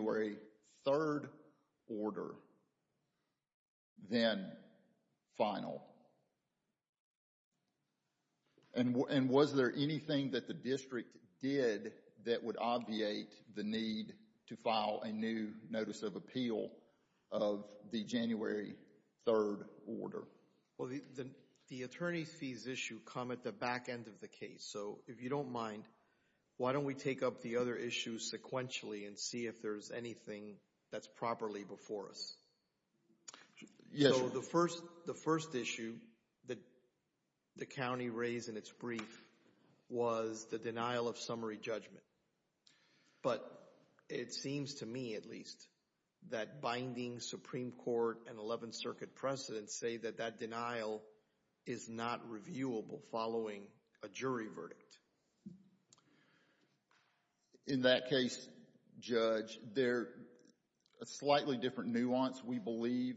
1-12887 and 21-14156, Crystal Lamb v. Clayton County School District Clayton County School District 1-12887 and 21-14156, Crystal Lamb v. Clayton County School District 1-12887 and 21-14156, Crystal Lamb v. Clayton County School District 1-12887 and 21-14156, Crystal Lamb v. Clayton County School District 1-12887 and 21-14156, Crystal Lamb v. Clayton County School District 1-12887. The attorneys' fees issue come at the back end of the case. So if you don't mind, why don't we take up the other issues sequentially and see if there's anything that's properly before us? So the first issue that the county raised in its brief was the denial of summary judgment. But it seems to me at least that binding Supreme Court and Eleventh Circuit precedents say that that denial is not reviewable following a jury verdict. In that case, Judge, a slightly different nuance we believe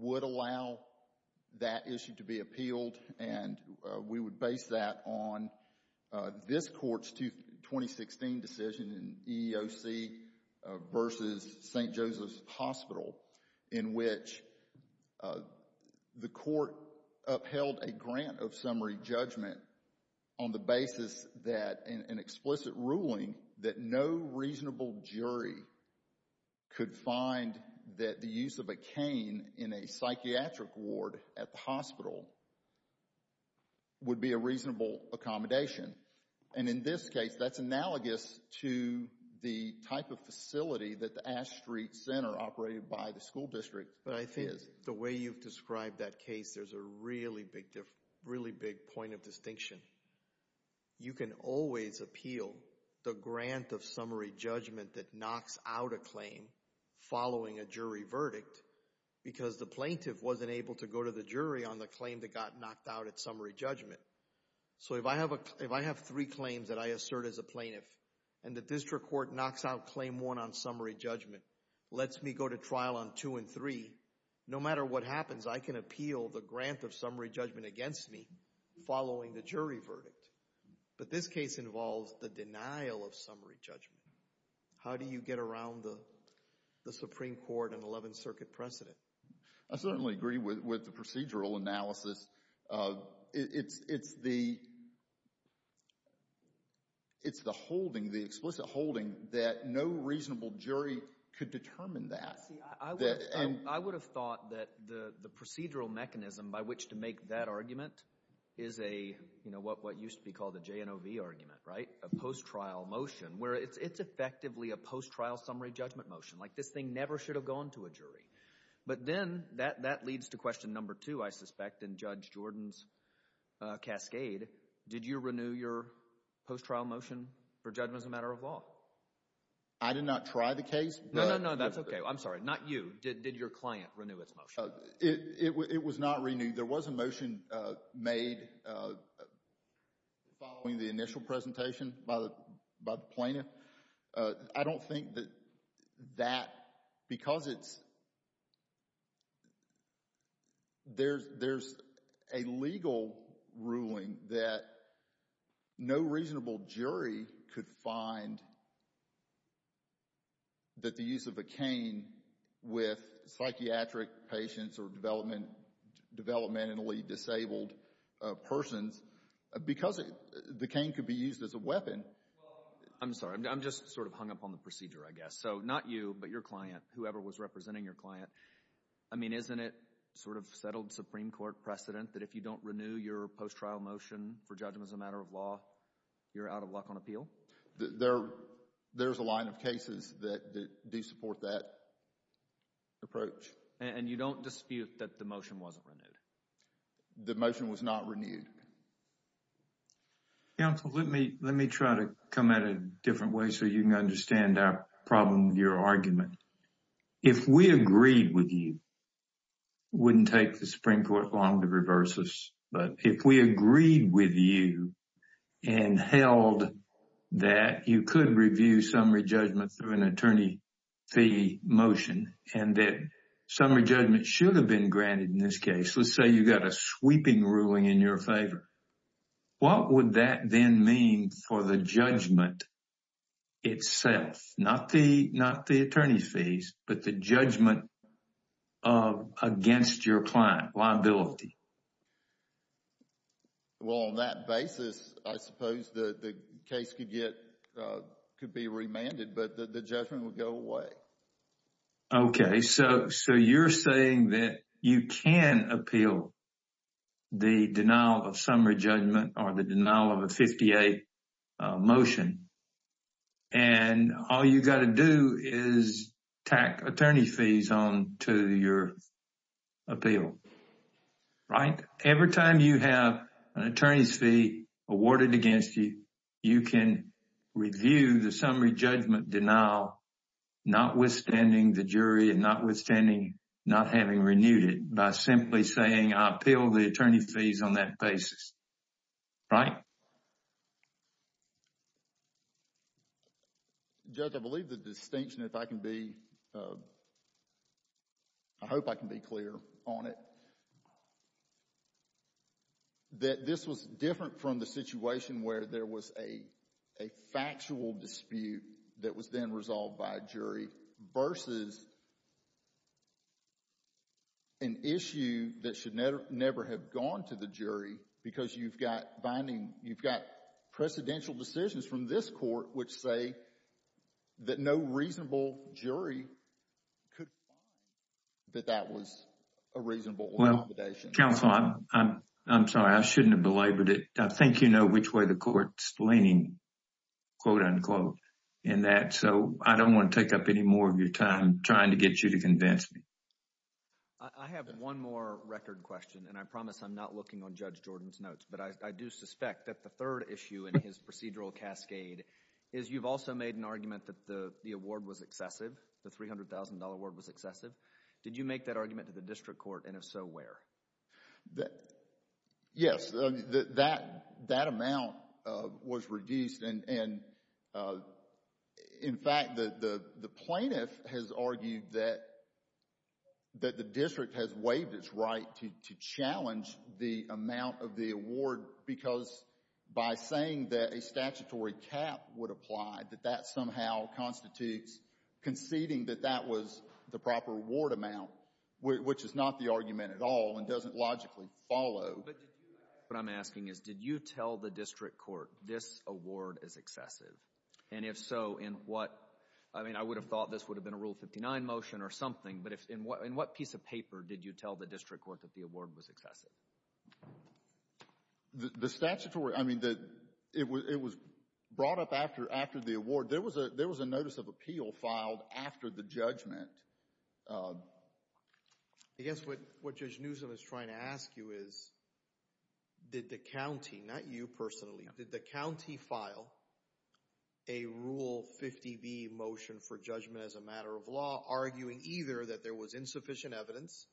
would allow that issue to be appealed and we would base that on this court's 2016 decision in EEOC v. St. Joseph's in which the court upheld a grant of summary judgment on the basis that an explicit ruling that no reasonable jury could find that the use of a cane in a psychiatric ward at the hospital would be a reasonable accommodation. And in this case, that's analogous to the type of facility that the Ash Street Center operated by the school district. But I think the way you've described that case, there's a really big point of distinction. You can always appeal the grant of summary judgment that knocks out a claim following a jury verdict because the plaintiff wasn't able to go to the jury on the claim that got knocked out at summary judgment. So if I have three claims that I assert as a plaintiff and the district court knocks out claim one on summary judgment, lets me go to trial on two and three, no matter what happens I can appeal the grant of summary judgment against me following the jury verdict. But this case involves the denial of summary judgment. How do you get around the Supreme Court and Eleventh Circuit precedent? I certainly agree with the procedural analysis. It's the holding, the explicit holding that no reasonable jury could determine that. I would have thought that the procedural mechanism by which to make that argument is a, you know, what used to be called a JNOV argument, right, a post-trial motion, where it's effectively a post-trial summary judgment motion. Like this thing never should have gone to a jury. But then, that leads to question number two, I suspect, in Judge Jordan's cascade. Did you renew your post-trial motion for judgment as a matter of law? I did not try the case. No, no, no. That's okay. I'm sorry. Not you. Did your client renew its motion? It was not renewed. There was a motion made following the initial presentation by the plaintiff. I don't think that that, because it's, there's a legal ruling that no reasonable jury could find that the use of a cane with psychiatric patients or developmentally disabled persons, because the cane could be used as a weapon. I'm sorry. I'm sorry. I'm just sort of hung up on the procedure, I guess. So, not you, but your client, whoever was representing your client, I mean, isn't it sort of settled Supreme Court precedent that if you don't renew your post-trial motion for judgment as a matter of law, you're out of luck on appeal? There's a line of cases that do support that approach. And you don't dispute that the motion wasn't renewed? The motion was not renewed. Counsel, let me, let me try to come at it a different way so you can understand our problem with your argument. If we agreed with you, wouldn't take the Supreme Court long to reverse this, but if we agreed with you and held that you could review summary judgment through an attorney fee motion and that summary judgment should have been granted in this case, let's say you got a sweeping ruling in your favor, what would that then mean for the judgment itself? Not the, not the attorney fees, but the judgment against your client, liability. Well, on that basis, I suppose the case could get, could be remanded, but the judgment would go away. Okay. So, so you're saying that you can appeal the denial of summary judgment or the denial of a 58 motion and all you got to do is tack attorney fees on to your appeal, right? Every time you have an attorney's fee awarded against you, you can review the summary judgment denial, not withstanding the jury and not withstanding, not having renewed it by simply saying I appeal the attorney fees on that basis, right? Judge, I believe the distinction, if I can be, I hope I can be clear on it, that this was different from the situation where there was a, a factual dispute that was then resolved by a jury versus an issue that should never, never have gone to the jury because you've got binding, you've got precedential decisions from this court which say that no reasonable jury could find that that was a reasonable limitation. Counsel, I'm sorry, I shouldn't have belabored it. I think you know which way the court's leaning, quote unquote, in that, so I don't want to take up any more of your time trying to get you to convince me. I have one more record question and I promise I'm not looking on Judge Jordan's notes, but I do suspect that the third issue in his procedural cascade is you've also made an argument that the award was excessive, the $300,000 award was excessive. Did you make that argument to the district court and if so, where? Yes, that amount was reduced and in fact, the plaintiff has argued that the district has waived its right to challenge the amount of the award because by saying that a statutory cap would apply, that that somehow constitutes conceding that that was the proper award amount, which is not the argument at all and doesn't logically follow. But did you ask, what I'm asking is, did you tell the district court this award is excessive and if so, in what, I mean, I would have thought this would have been a Rule 59 motion or something, but in what piece of paper did you tell the district court that the award was excessive? The statutory, I mean, it was brought up after the award. There was a notice of appeal filed after the judgment. I guess what Judge Newsom is trying to ask you is, did the county, not you personally, did the county file a Rule 50B motion for judgment as a matter of law arguing either that there was insufficient evidence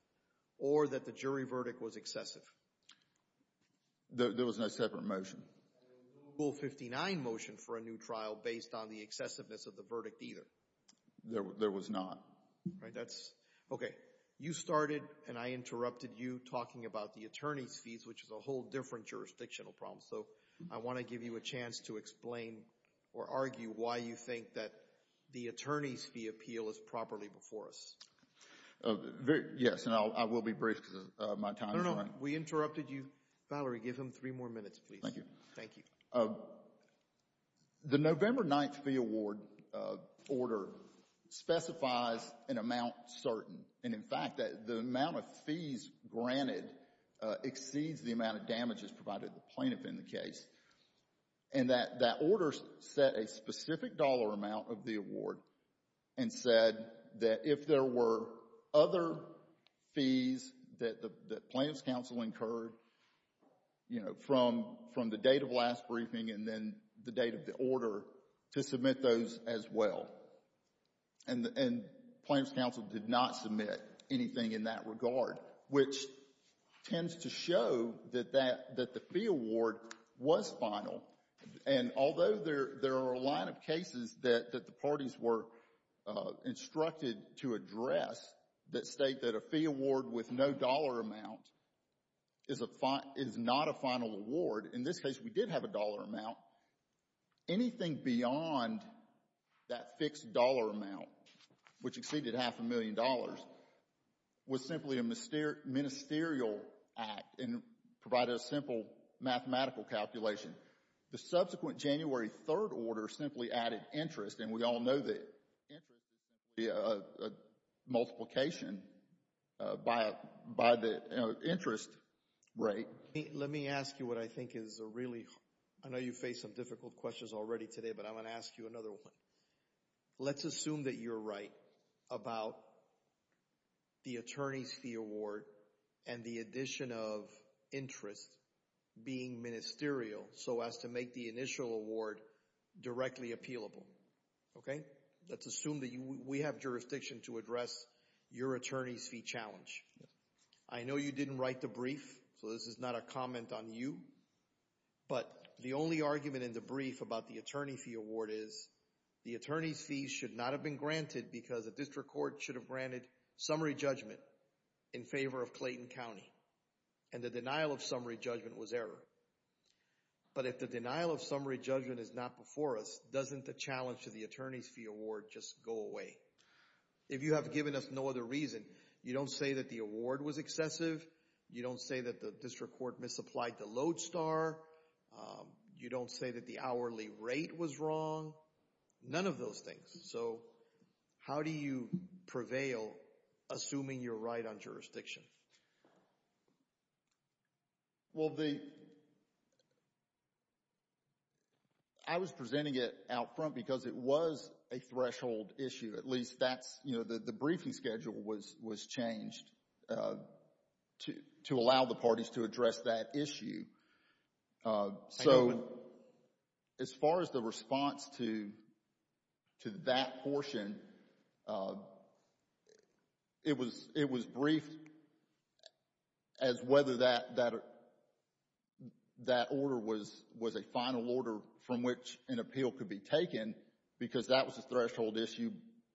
or that the jury verdict was excessive? There was no separate motion. There was no Rule 59 motion for a new trial based on the excessiveness of the verdict either? There was not. Right, that's, okay. You started and I interrupted you talking about the attorney's fees, which is a whole different jurisdictional problem, so I want to give you a chance to explain or argue why you think that the attorney's fee appeal is properly before us. Yes, and I will be brief because my time is running. We interrupted you. Valerie, give him three more minutes, please. Thank you. The November 9th fee award order specifies an amount certain, and in fact, the amount of fees granted exceeds the amount of damages provided to the plaintiff in the case. And that order set a specific dollar amount of the award and said that if there were other fees that the plaintiff's counsel incurred, you know, from the date of last briefing and then the date of the order, to submit those as well. And plaintiff's counsel did not submit anything in that regard, which tends to show that the fee award was final. And although there are a line of cases that the parties were instructed to address that state that a fee award with no dollar amount is not a final award, in this case we did have a dollar amount, anything beyond that fixed dollar amount, which exceeded half a ministerial act and provided a simple mathematical calculation. The subsequent January 3rd order simply added interest, and we all know that interest is a multiplication by the interest rate. Let me ask you what I think is a really, I know you faced some difficult questions already today, but I'm going to ask you another one. Let's assume that you're right about the attorney's fee award and the addition of interest being ministerial so as to make the initial award directly appealable, okay? Let's assume that we have jurisdiction to address your attorney's fee challenge. I know you didn't write the brief, so this is not a comment on you, but the only argument in the brief about the attorney's fee award is the attorney's fees should not have been granted because the district court should have granted summary judgment in favor of Clayton County, and the denial of summary judgment was error. But if the denial of summary judgment is not before us, doesn't the challenge to the attorney's fee award just go away? If you have given us no other reason, you don't say that the award was excessive, you don't say that the hourly rate was wrong, none of those things. So how do you prevail assuming you're right on jurisdiction? Well, the, I was presenting it out front because it was a threshold issue. At least that's, you know, the briefing schedule was changed to allow the parties to address that issue. So, as far as the response to that portion, it was briefed as whether that order was a final order from which an appeal could be taken because that was a threshold issue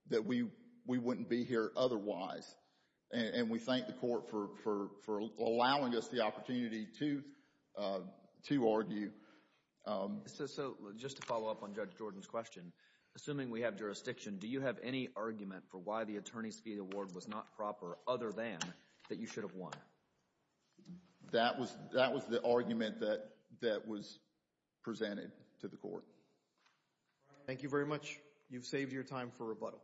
that we wouldn't be here otherwise. And we thank the court for allowing us the opportunity to argue. So just to follow up on Judge Jordan's question, assuming we have jurisdiction, do you have any argument for why the attorney's fee award was not proper other than that you should have won? That was the argument that was presented to the court. Thank you very much. You've saved your time for rebuttal.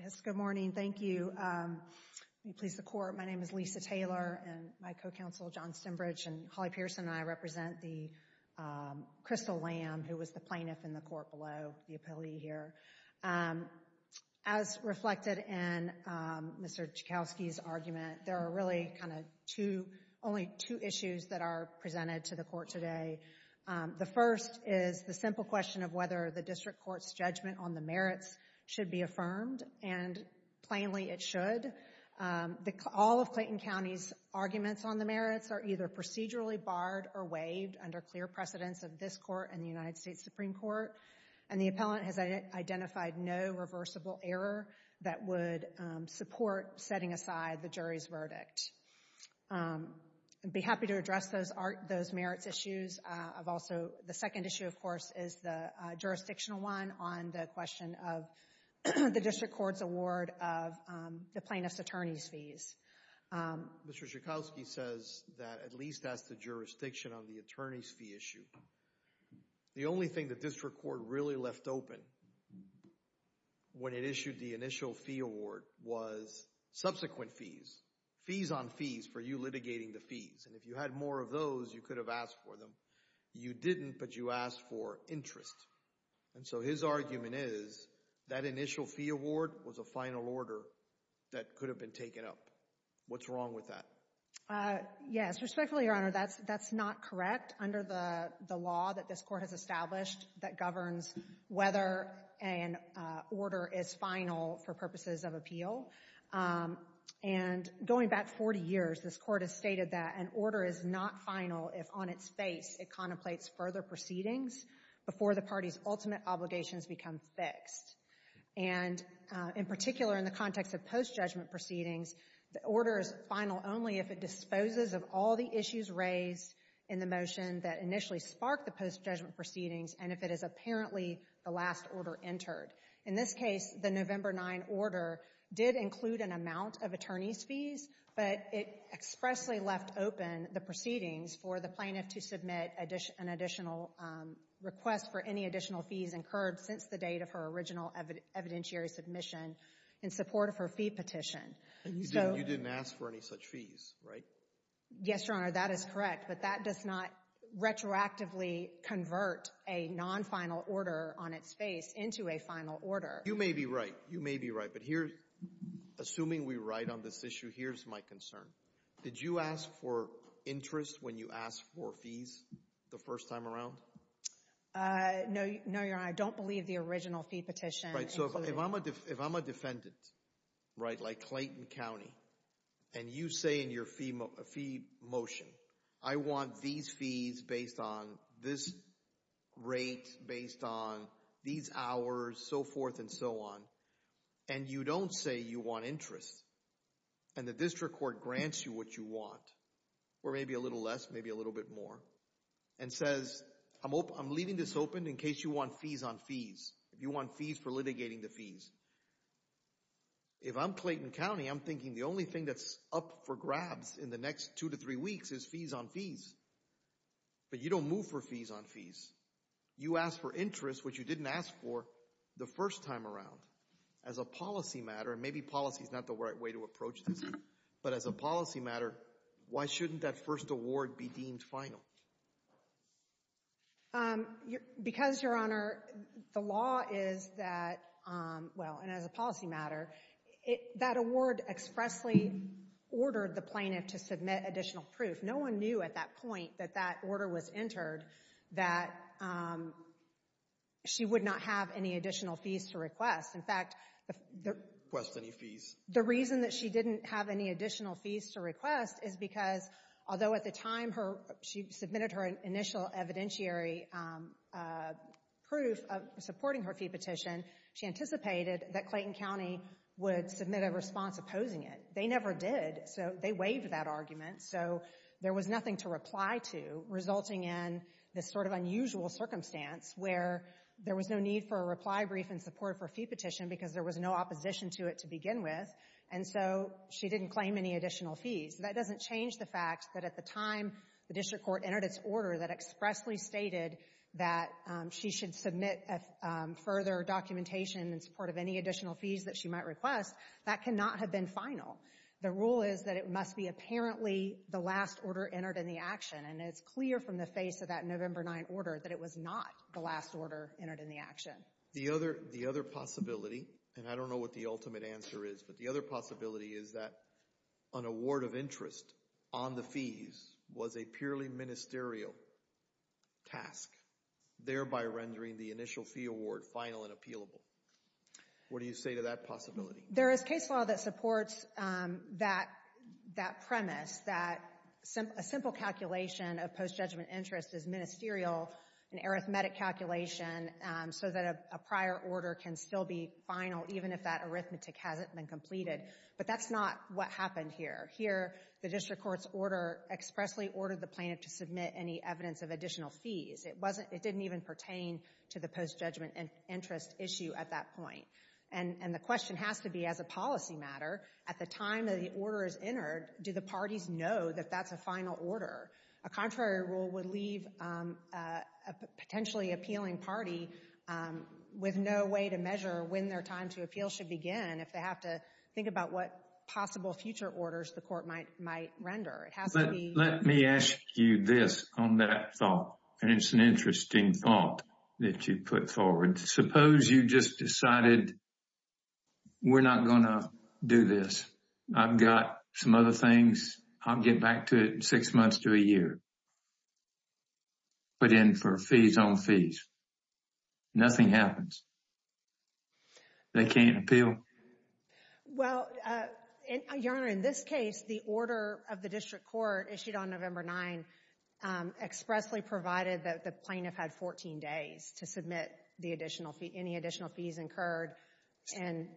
Yes, good morning. Thank you. May it please the court, my name is Lisa Taylor and my co-counsel John Stembridge and Holly Pearson and I represent the Crystal Lamb, who was the plaintiff in the court below the appellee here. As reflected in Mr. Joukowsky's argument, there are really kind of two, only two issues that are presented to the court today. The first is the simple question of whether the district court's judgment on the merits should be affirmed and plainly it should. All of Clayton County's arguments on the merits are either procedurally barred or waived under clear precedence of this court and the United States Supreme Court and the appellant has identified no reversible error that would support setting aside the jury's verdict. I'd be happy to address those merits issues. The second issue, of course, is the jurisdictional one on the question of the district court's award of the plaintiff's attorney's fees. Mr. Joukowsky says that at least that's the jurisdiction on the attorney's fee issue. The only thing the district court really left open when it issued the initial fee award was subsequent fees. Fees on fees for you litigating the fees and if you had more of those, you could have asked for them. You didn't, but you asked for interest. And so his argument is that initial fee award was a final order that could have been taken up. What's wrong with that? Yes. Respectfully, Your Honor, that's not correct under the law that this court has established that governs whether an order is final for purposes of appeal. And going back 40 years, this court has stated that an order is not final if on its face it contemplates further proceedings before the party's ultimate obligations become fixed. And in particular, in the context of post-judgment proceedings, the order is final only if it disposes of all the issues raised in the motion that initially sparked the post-judgment proceedings and if it is apparently the last order entered. In this case, the November 9 order did include an amount of attorney's fees, but it expressly left open the proceedings for the plaintiff to submit an additional request for any additional fees incurred since the date of her original evidentiary submission in support of her fee petition. You didn't ask for any such fees, right? Yes, Your Honor, that is correct, but that does not retroactively convert a non-final order on its face into a final order. You may be right, you may be right, but here, assuming we're right on this issue, here's my concern. Did you ask for interest when you asked for fees the first time around? No, Your Honor, I don't believe the original fee petition included. Right, so if I'm a defendant, right, like Clayton County, and you say in your fee motion, I want these fees based on this rate, based on these hours, so forth and so on, and you don't say you want interest, and the district court grants you what you want, or maybe a little less, maybe a little bit more, and says, I'm leaving this open in case you want fees on fees, if you want fees for litigating the fees. If I'm Clayton County, I'm thinking the only thing that's up for grabs in the next two to three weeks is fees on fees, but you don't move for fees on fees. You asked for interest, which you didn't ask for the first time around. As a policy matter, and maybe policy is not the right way to approach this, but as a policy matter, why shouldn't that first award be deemed final? Because Your Honor, the law is that, well, and as a policy matter, that award expressly ordered the plaintiff to submit additional proof. No one knew at that point that that order was entered that she would not have any additional fees to request. In fact, the reason that she didn't have any additional fees to request is because, although at the time she submitted her initial evidentiary proof supporting her fee petition, she anticipated that Clayton County would submit a response opposing it. They never did, so they waived that argument. So there was nothing to reply to, resulting in this sort of unusual circumstance where there was no need for a reply brief in support of her fee petition because there was no opposition to it to begin with, and so she didn't claim any additional fees. That doesn't change the fact that at the time the district court entered its order that expressly stated that she should submit further documentation in support of any additional fees that she might request, that cannot have been final. The rule is that it must be apparently the last order entered in the action, and it's clear from the face of that November 9 order that it was not the last order entered in the action. The other possibility, and I don't know what the ultimate answer is, but the other possibility is that an award of interest on the fees was a purely ministerial task, thereby rendering the initial fee award final and appealable. What do you say to that possibility? There is case law that supports that premise, that a simple calculation of post-judgment interest is ministerial, an arithmetic calculation, so that a prior order can still be final even if that arithmetic hasn't been completed, but that's not what happened here. Here the district court's order expressly ordered the plaintiff to submit any evidence of additional fees. It didn't even pertain to the post-judgment interest issue at that point, and the question has to be, as a policy matter, at the time that the order is entered, do the parties know that that's a final order? A contrary rule would leave a potentially appealing party with no way to measure when their time to appeal should begin if they have to think about what possible future orders the court might render. Let me ask you this on that thought, and it's an interesting thought that you put forward. Suppose you just decided, we're not going to do this, I've got some other things, I'll get back to it in six months to a year, but then for fees on fees, nothing happens. They can't appeal? Well, Your Honor, in this case, the order of the district court issued on November 9 expressly provided that the plaintiff had 14 days to submit any additional fees incurred.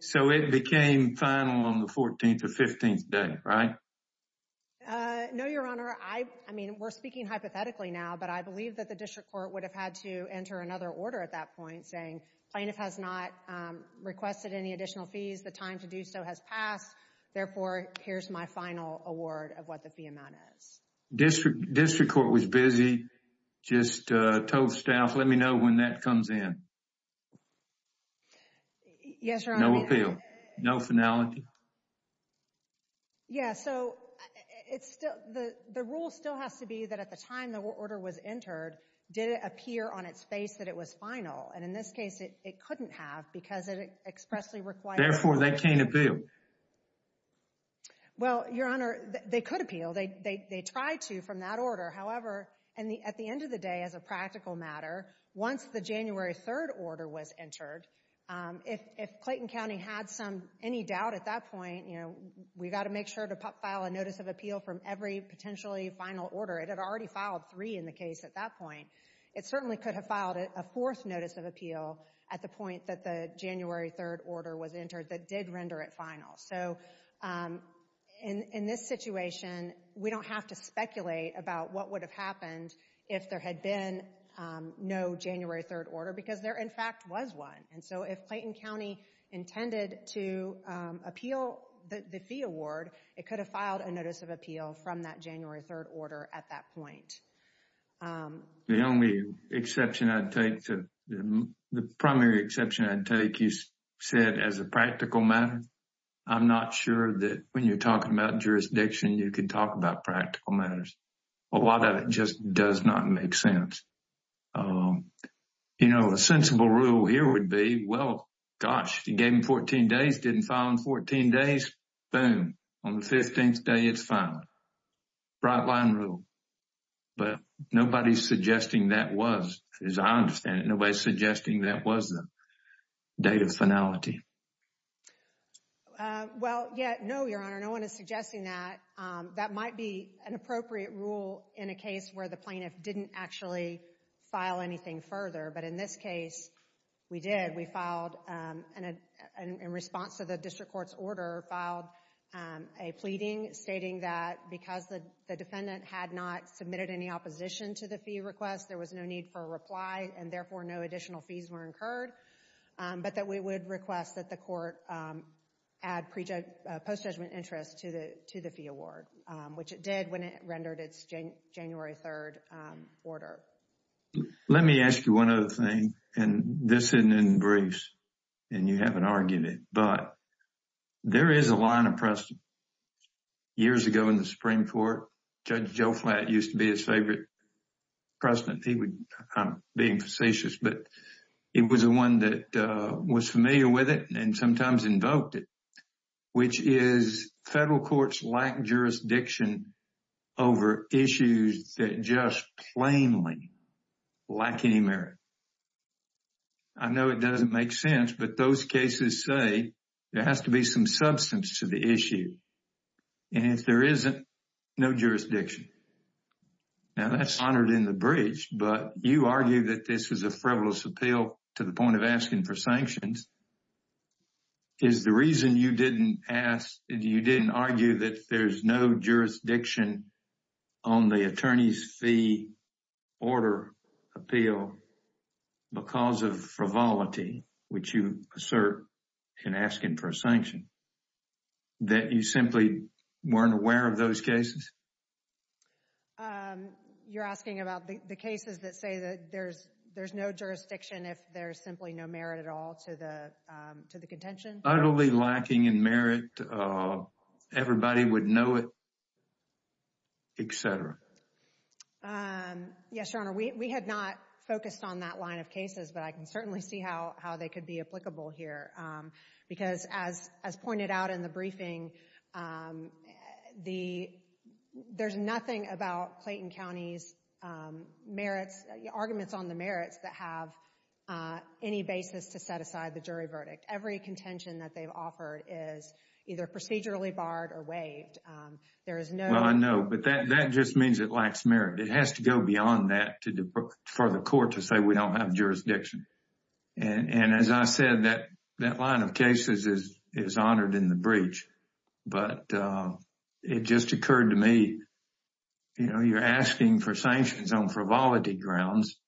So it became final on the 14th or 15th day, right? No, Your Honor. I mean, we're speaking hypothetically now, but I believe that the district court would have had to enter another order at that point saying, plaintiff has not requested any additional fees. The time to do so has passed. Therefore, here's my final award of what the fee amount is. District court was busy, just told staff, let me know when that comes in. Yes, Your Honor. No appeal. No finality. Yeah, so it's still, the rule still has to be that at the time the order was entered, did it appear on its face that it was final, and in this case, it couldn't have because it expressly required... Therefore, they can't appeal. Well, Your Honor, they could appeal. They tried to from that order. However, at the end of the day, as a practical matter, once the January 3rd order was entered, if Clayton County had any doubt at that point, you know, we've got to make sure to file a notice of appeal from every potentially final order. It had already filed three in the case at that point. It certainly could have filed a fourth notice of appeal at the point that the January 3rd order was entered that did render it final. So in this situation, we don't have to speculate about what would have happened if there had been no January 3rd order because there, in fact, was one. And so if Clayton County intended to appeal the fee award, it could have filed a notice of appeal from that January 3rd order at that point. The only exception I'd take to... The primary exception I'd take, you said, as a practical matter. I'm not sure that when you're talking about jurisdiction, you can talk about practical matters. A lot of it just does not make sense. You know, a sensible rule here would be, well, gosh, you gave him 14 days, didn't file in 14 days, boom, on the 15th day, it's final. Bright line rule. But nobody's suggesting that was, as I understand it, nobody's suggesting that was the date of finality. Well, yeah, no, Your Honor, no one is suggesting that. That might be an appropriate rule in a case where the plaintiff didn't actually file anything further. But in this case, we did. We filed, in response to the district court's order, filed a pleading stating that because the defendant had not submitted any opposition to the fee request, there was no need for a reply, and therefore no additional fees were incurred, but that we would request that the court add post-judgment interest to the fee award, which it did when it rendered its January 3rd order. Let me ask you one other thing, and this isn't in briefs, and you haven't argued it, but there is a line of precedent. Years ago in the Supreme Court, Judge Joe Flatt used to be his favorite precedent, I'm being facetious, but it was the one that was familiar with it and sometimes invoked it, which is federal courts lack jurisdiction over issues that just plainly lack any merit. I know it doesn't make sense, but those cases say there has to be some substance to the issue, and if there isn't, no jurisdiction. Now, that's honored in the breach, but you argue that this is a frivolous appeal to the You didn't argue that there's no jurisdiction on the attorney's fee order appeal because of frivolity, which you assert in asking for a sanction, that you simply weren't aware of those cases? You're asking about the cases that say that there's no jurisdiction if there's simply no merit at all to the contention? Utterly lacking in merit, everybody would know it, et cetera. Yes, Your Honor, we had not focused on that line of cases, but I can certainly see how they could be applicable here, because as pointed out in the briefing, there's nothing about Clayton County's merits, arguments on the merits that have any basis to set aside the jury verdict. Every contention that they've offered is either procedurally barred or waived. There is no... Well, I know, but that just means it lacks merit. It has to go beyond that for the court to say we don't have jurisdiction. And as I said, that line of cases is honored in the breach, but it just occurred to me, you know, you're asking for sanctions on frivolity grounds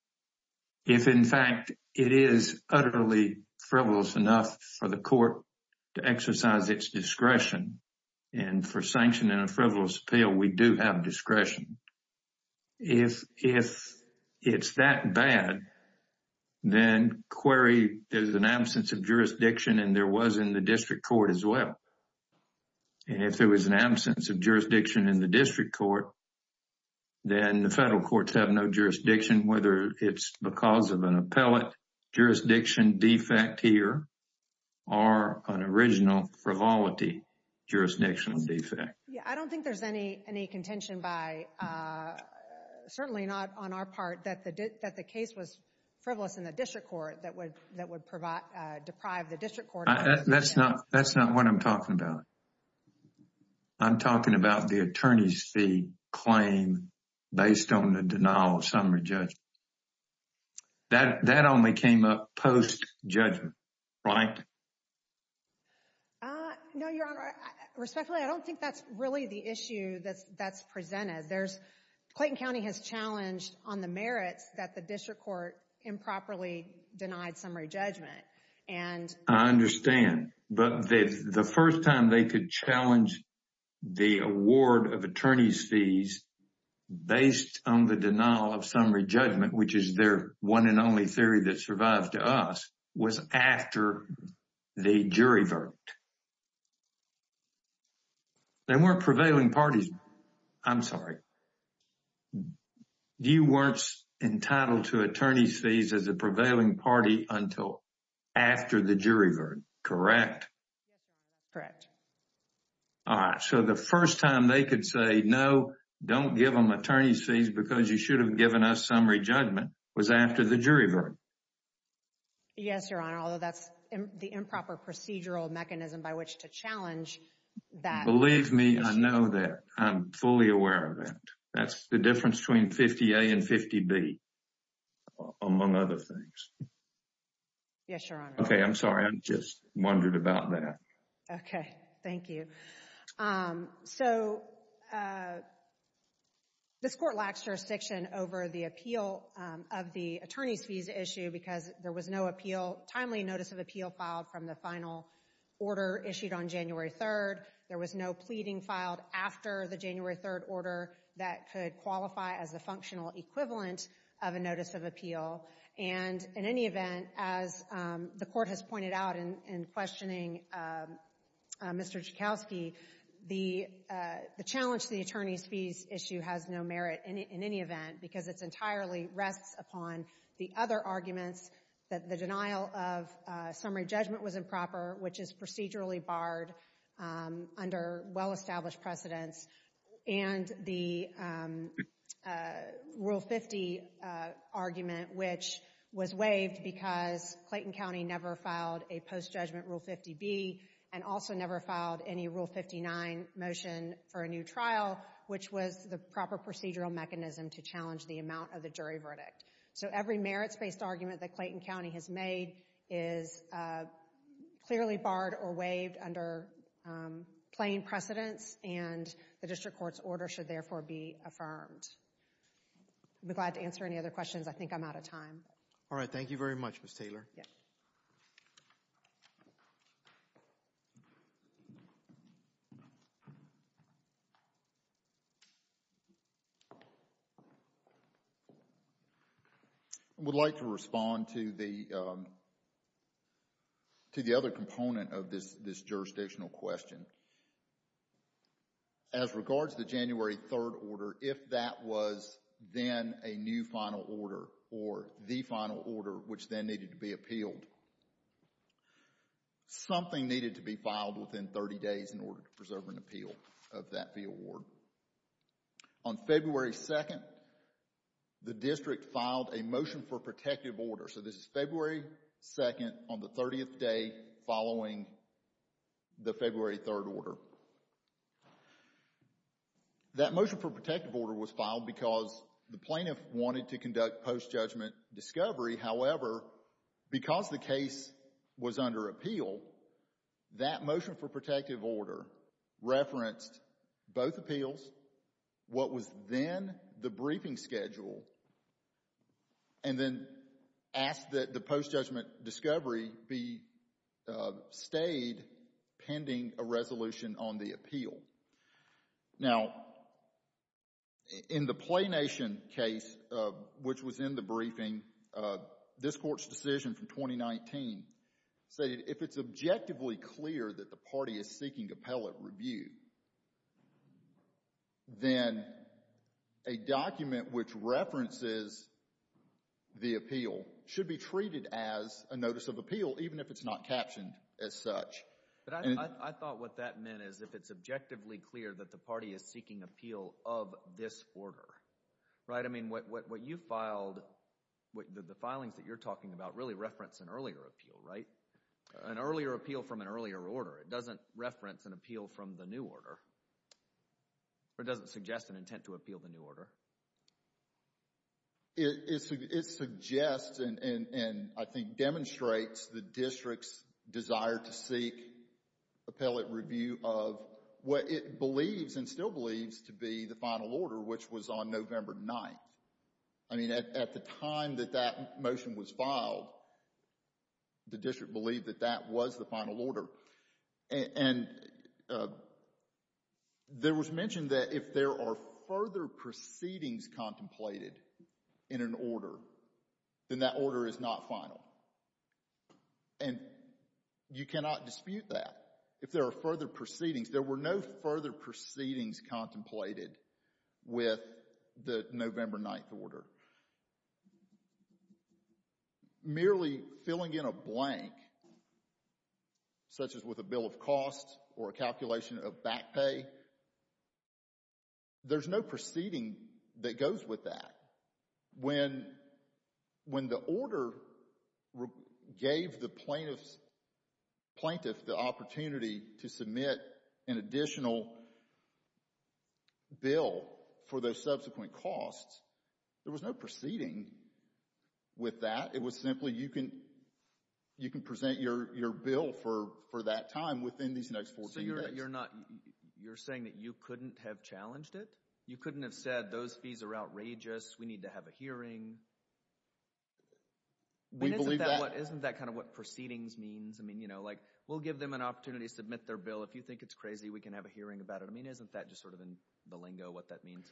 if, in fact, it is utterly frivolous enough for the court to exercise its discretion. And for sanction in a frivolous appeal, we do have discretion. If it's that bad, then query there's an absence of jurisdiction and there was in the district court as well. And if there was an absence of jurisdiction in the district court, then the federal courts have no jurisdiction, whether it's because of an appellate jurisdiction defect here or an original frivolity jurisdiction defect. I don't think there's any contention by, certainly not on our part, that the case was frivolous in the district court that would deprive the district court. That's not what I'm talking about. I'm talking about the attorney's fee claim based on the denial of summary judgment. That only came up post-judgment, right? No, Your Honor. Respectfully, I don't think that's really the issue that's presented. Clayton County has challenged on the merits that the district court improperly denied summary judgment. I understand, but the first time they could challenge the award of attorney's fees based on the denial of summary judgment, which is their one and only theory that survived to us, was after the jury vote. They weren't prevailing parties. I'm sorry. You weren't entitled to attorney's fees as a prevailing party until after the jury vote, correct? Yes, Your Honor. Correct. All right. So the first time they could say, no, don't give them attorney's fees because you should have given us summary judgment, was after the jury vote. Yes, Your Honor, although that's the improper procedural mechanism by which to challenge that. Believe me, I know that. I'm fully aware of it. That's the difference between 50A and 50B, among other things. Yes, Your Honor. Okay, I'm sorry. I just wondered about that. Okay. Thank you. So this court lacks jurisdiction over the appeal of the attorney's fees issue because there was no timely notice of appeal filed from the final order issued on January 3rd. There was no pleading filed after the January 3rd order that could qualify as a functional equivalent of a notice of appeal. And in any event, as the court has pointed out in questioning Mr. Joukowsky, the challenge to the attorney's fees issue has no merit in any event because it entirely rests upon the other arguments that the denial of summary judgment was improper, which is procedurally barred under well-established precedents, and the Rule 50 argument, which was waived because Clayton County never filed a post-judgment Rule 50B and also never filed any Rule 59 motion for a new trial, which was the proper procedural mechanism to challenge the amount of the jury verdict. So every merits-based argument that Clayton County has made is clearly barred or waived under plain precedents, and the district court's order should therefore be affirmed. I'd be glad to answer any other questions. I think I'm out of time. All right. Thank you very much, Ms. Taylor. Yes. I would like to respond to the other component of this jurisdictional question. As regards to the January 3rd order, if that was then a new final order or the final order which then needed to be appealed, something needed to be filed within 30 days in order to preserve an appeal of that fee award. On February 2nd, the district filed a motion for protective order. So this is February 2nd on the 30th day following the February 3rd order. That motion for protective order was filed because the plaintiff wanted to conduct post-judgment discovery. However, because the case was under appeal, that motion for protective order referenced both appeals, what was then the briefing schedule, and then asked that the post-judgment discovery be stayed pending a resolution on the appeal. Now, in the PlayNation case, which was in the briefing, this court's decision from 2019 stated if it's objectively clear that the party is seeking appellate review, then a document which references the appeal should be treated as a notice of appeal even if it's not captioned as such. But I thought what that meant is if it's objectively clear that the party is seeking appeal of this order, right? I mean, what you filed, the filings that you're talking about really reference an earlier appeal, right? An earlier appeal from an earlier order. It doesn't reference an appeal from the new order. Or it doesn't suggest an intent to appeal the new order. It suggests and I think demonstrates the district's desire to seek appellate review of what it believes and still believes to be the final order, which was on November 9th. I mean, at the time that that motion was filed, the district believed that that was the final order. And there was mention that if there are further proceedings contemplated in an order, then that order is not final. And you cannot dispute that. If there are further proceedings, there were no further proceedings contemplated with the November 9th order. Merely filling in a blank, such as with a bill of cost or a calculation of back pay, there's no proceeding that goes with that. When the order gave the plaintiff the opportunity to submit an additional bill for those subsequent costs, there was no proceeding with that. It was simply, you can present your bill for that time within these next 14 days. You're saying that you couldn't have challenged it? You couldn't have said, those fees are outrageous, we need to have a hearing? Isn't that kind of what proceedings means? I mean, you know, like, we'll give them an opportunity to submit their bill. If you think it's crazy, we can have a hearing about it. I mean, isn't that just sort of in the lingo what that means?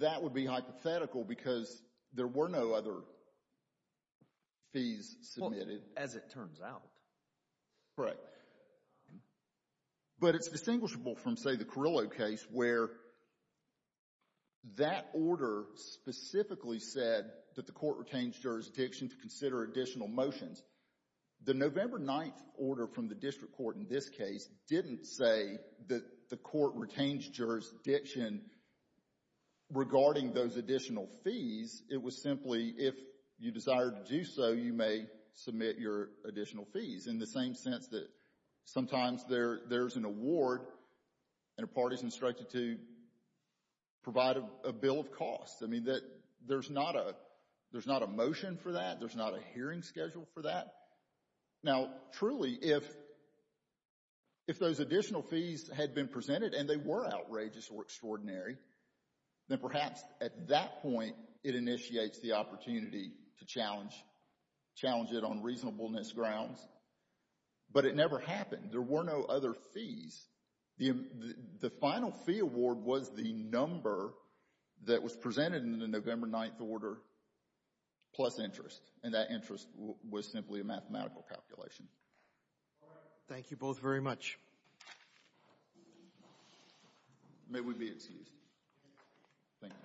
That would be hypothetical because there were no other fees submitted. As it turns out. Right. But it's distinguishable from, say, the Carrillo case where that order specifically said that the court retains jurisdiction to consider additional motions. The November 9th order from the district court in this case didn't say that the court retains jurisdiction regarding those additional fees. It was simply, if you desire to do so, you may submit your additional fees, in the same sense that sometimes there's an award and a party is instructed to provide a bill of cost. I mean, there's not a motion for that. Now, truly, if those additional fees had been presented and they were outrageous or extraordinary, then perhaps at that point it initiates the opportunity to challenge it on reasonableness grounds. But it never happened. There were no other fees. The final fee award was the number that was presented in the November 9th order plus interest, and that interest was simply a mathematical calculation. Thank you both very much. May we be excused? Thank you. Thank you.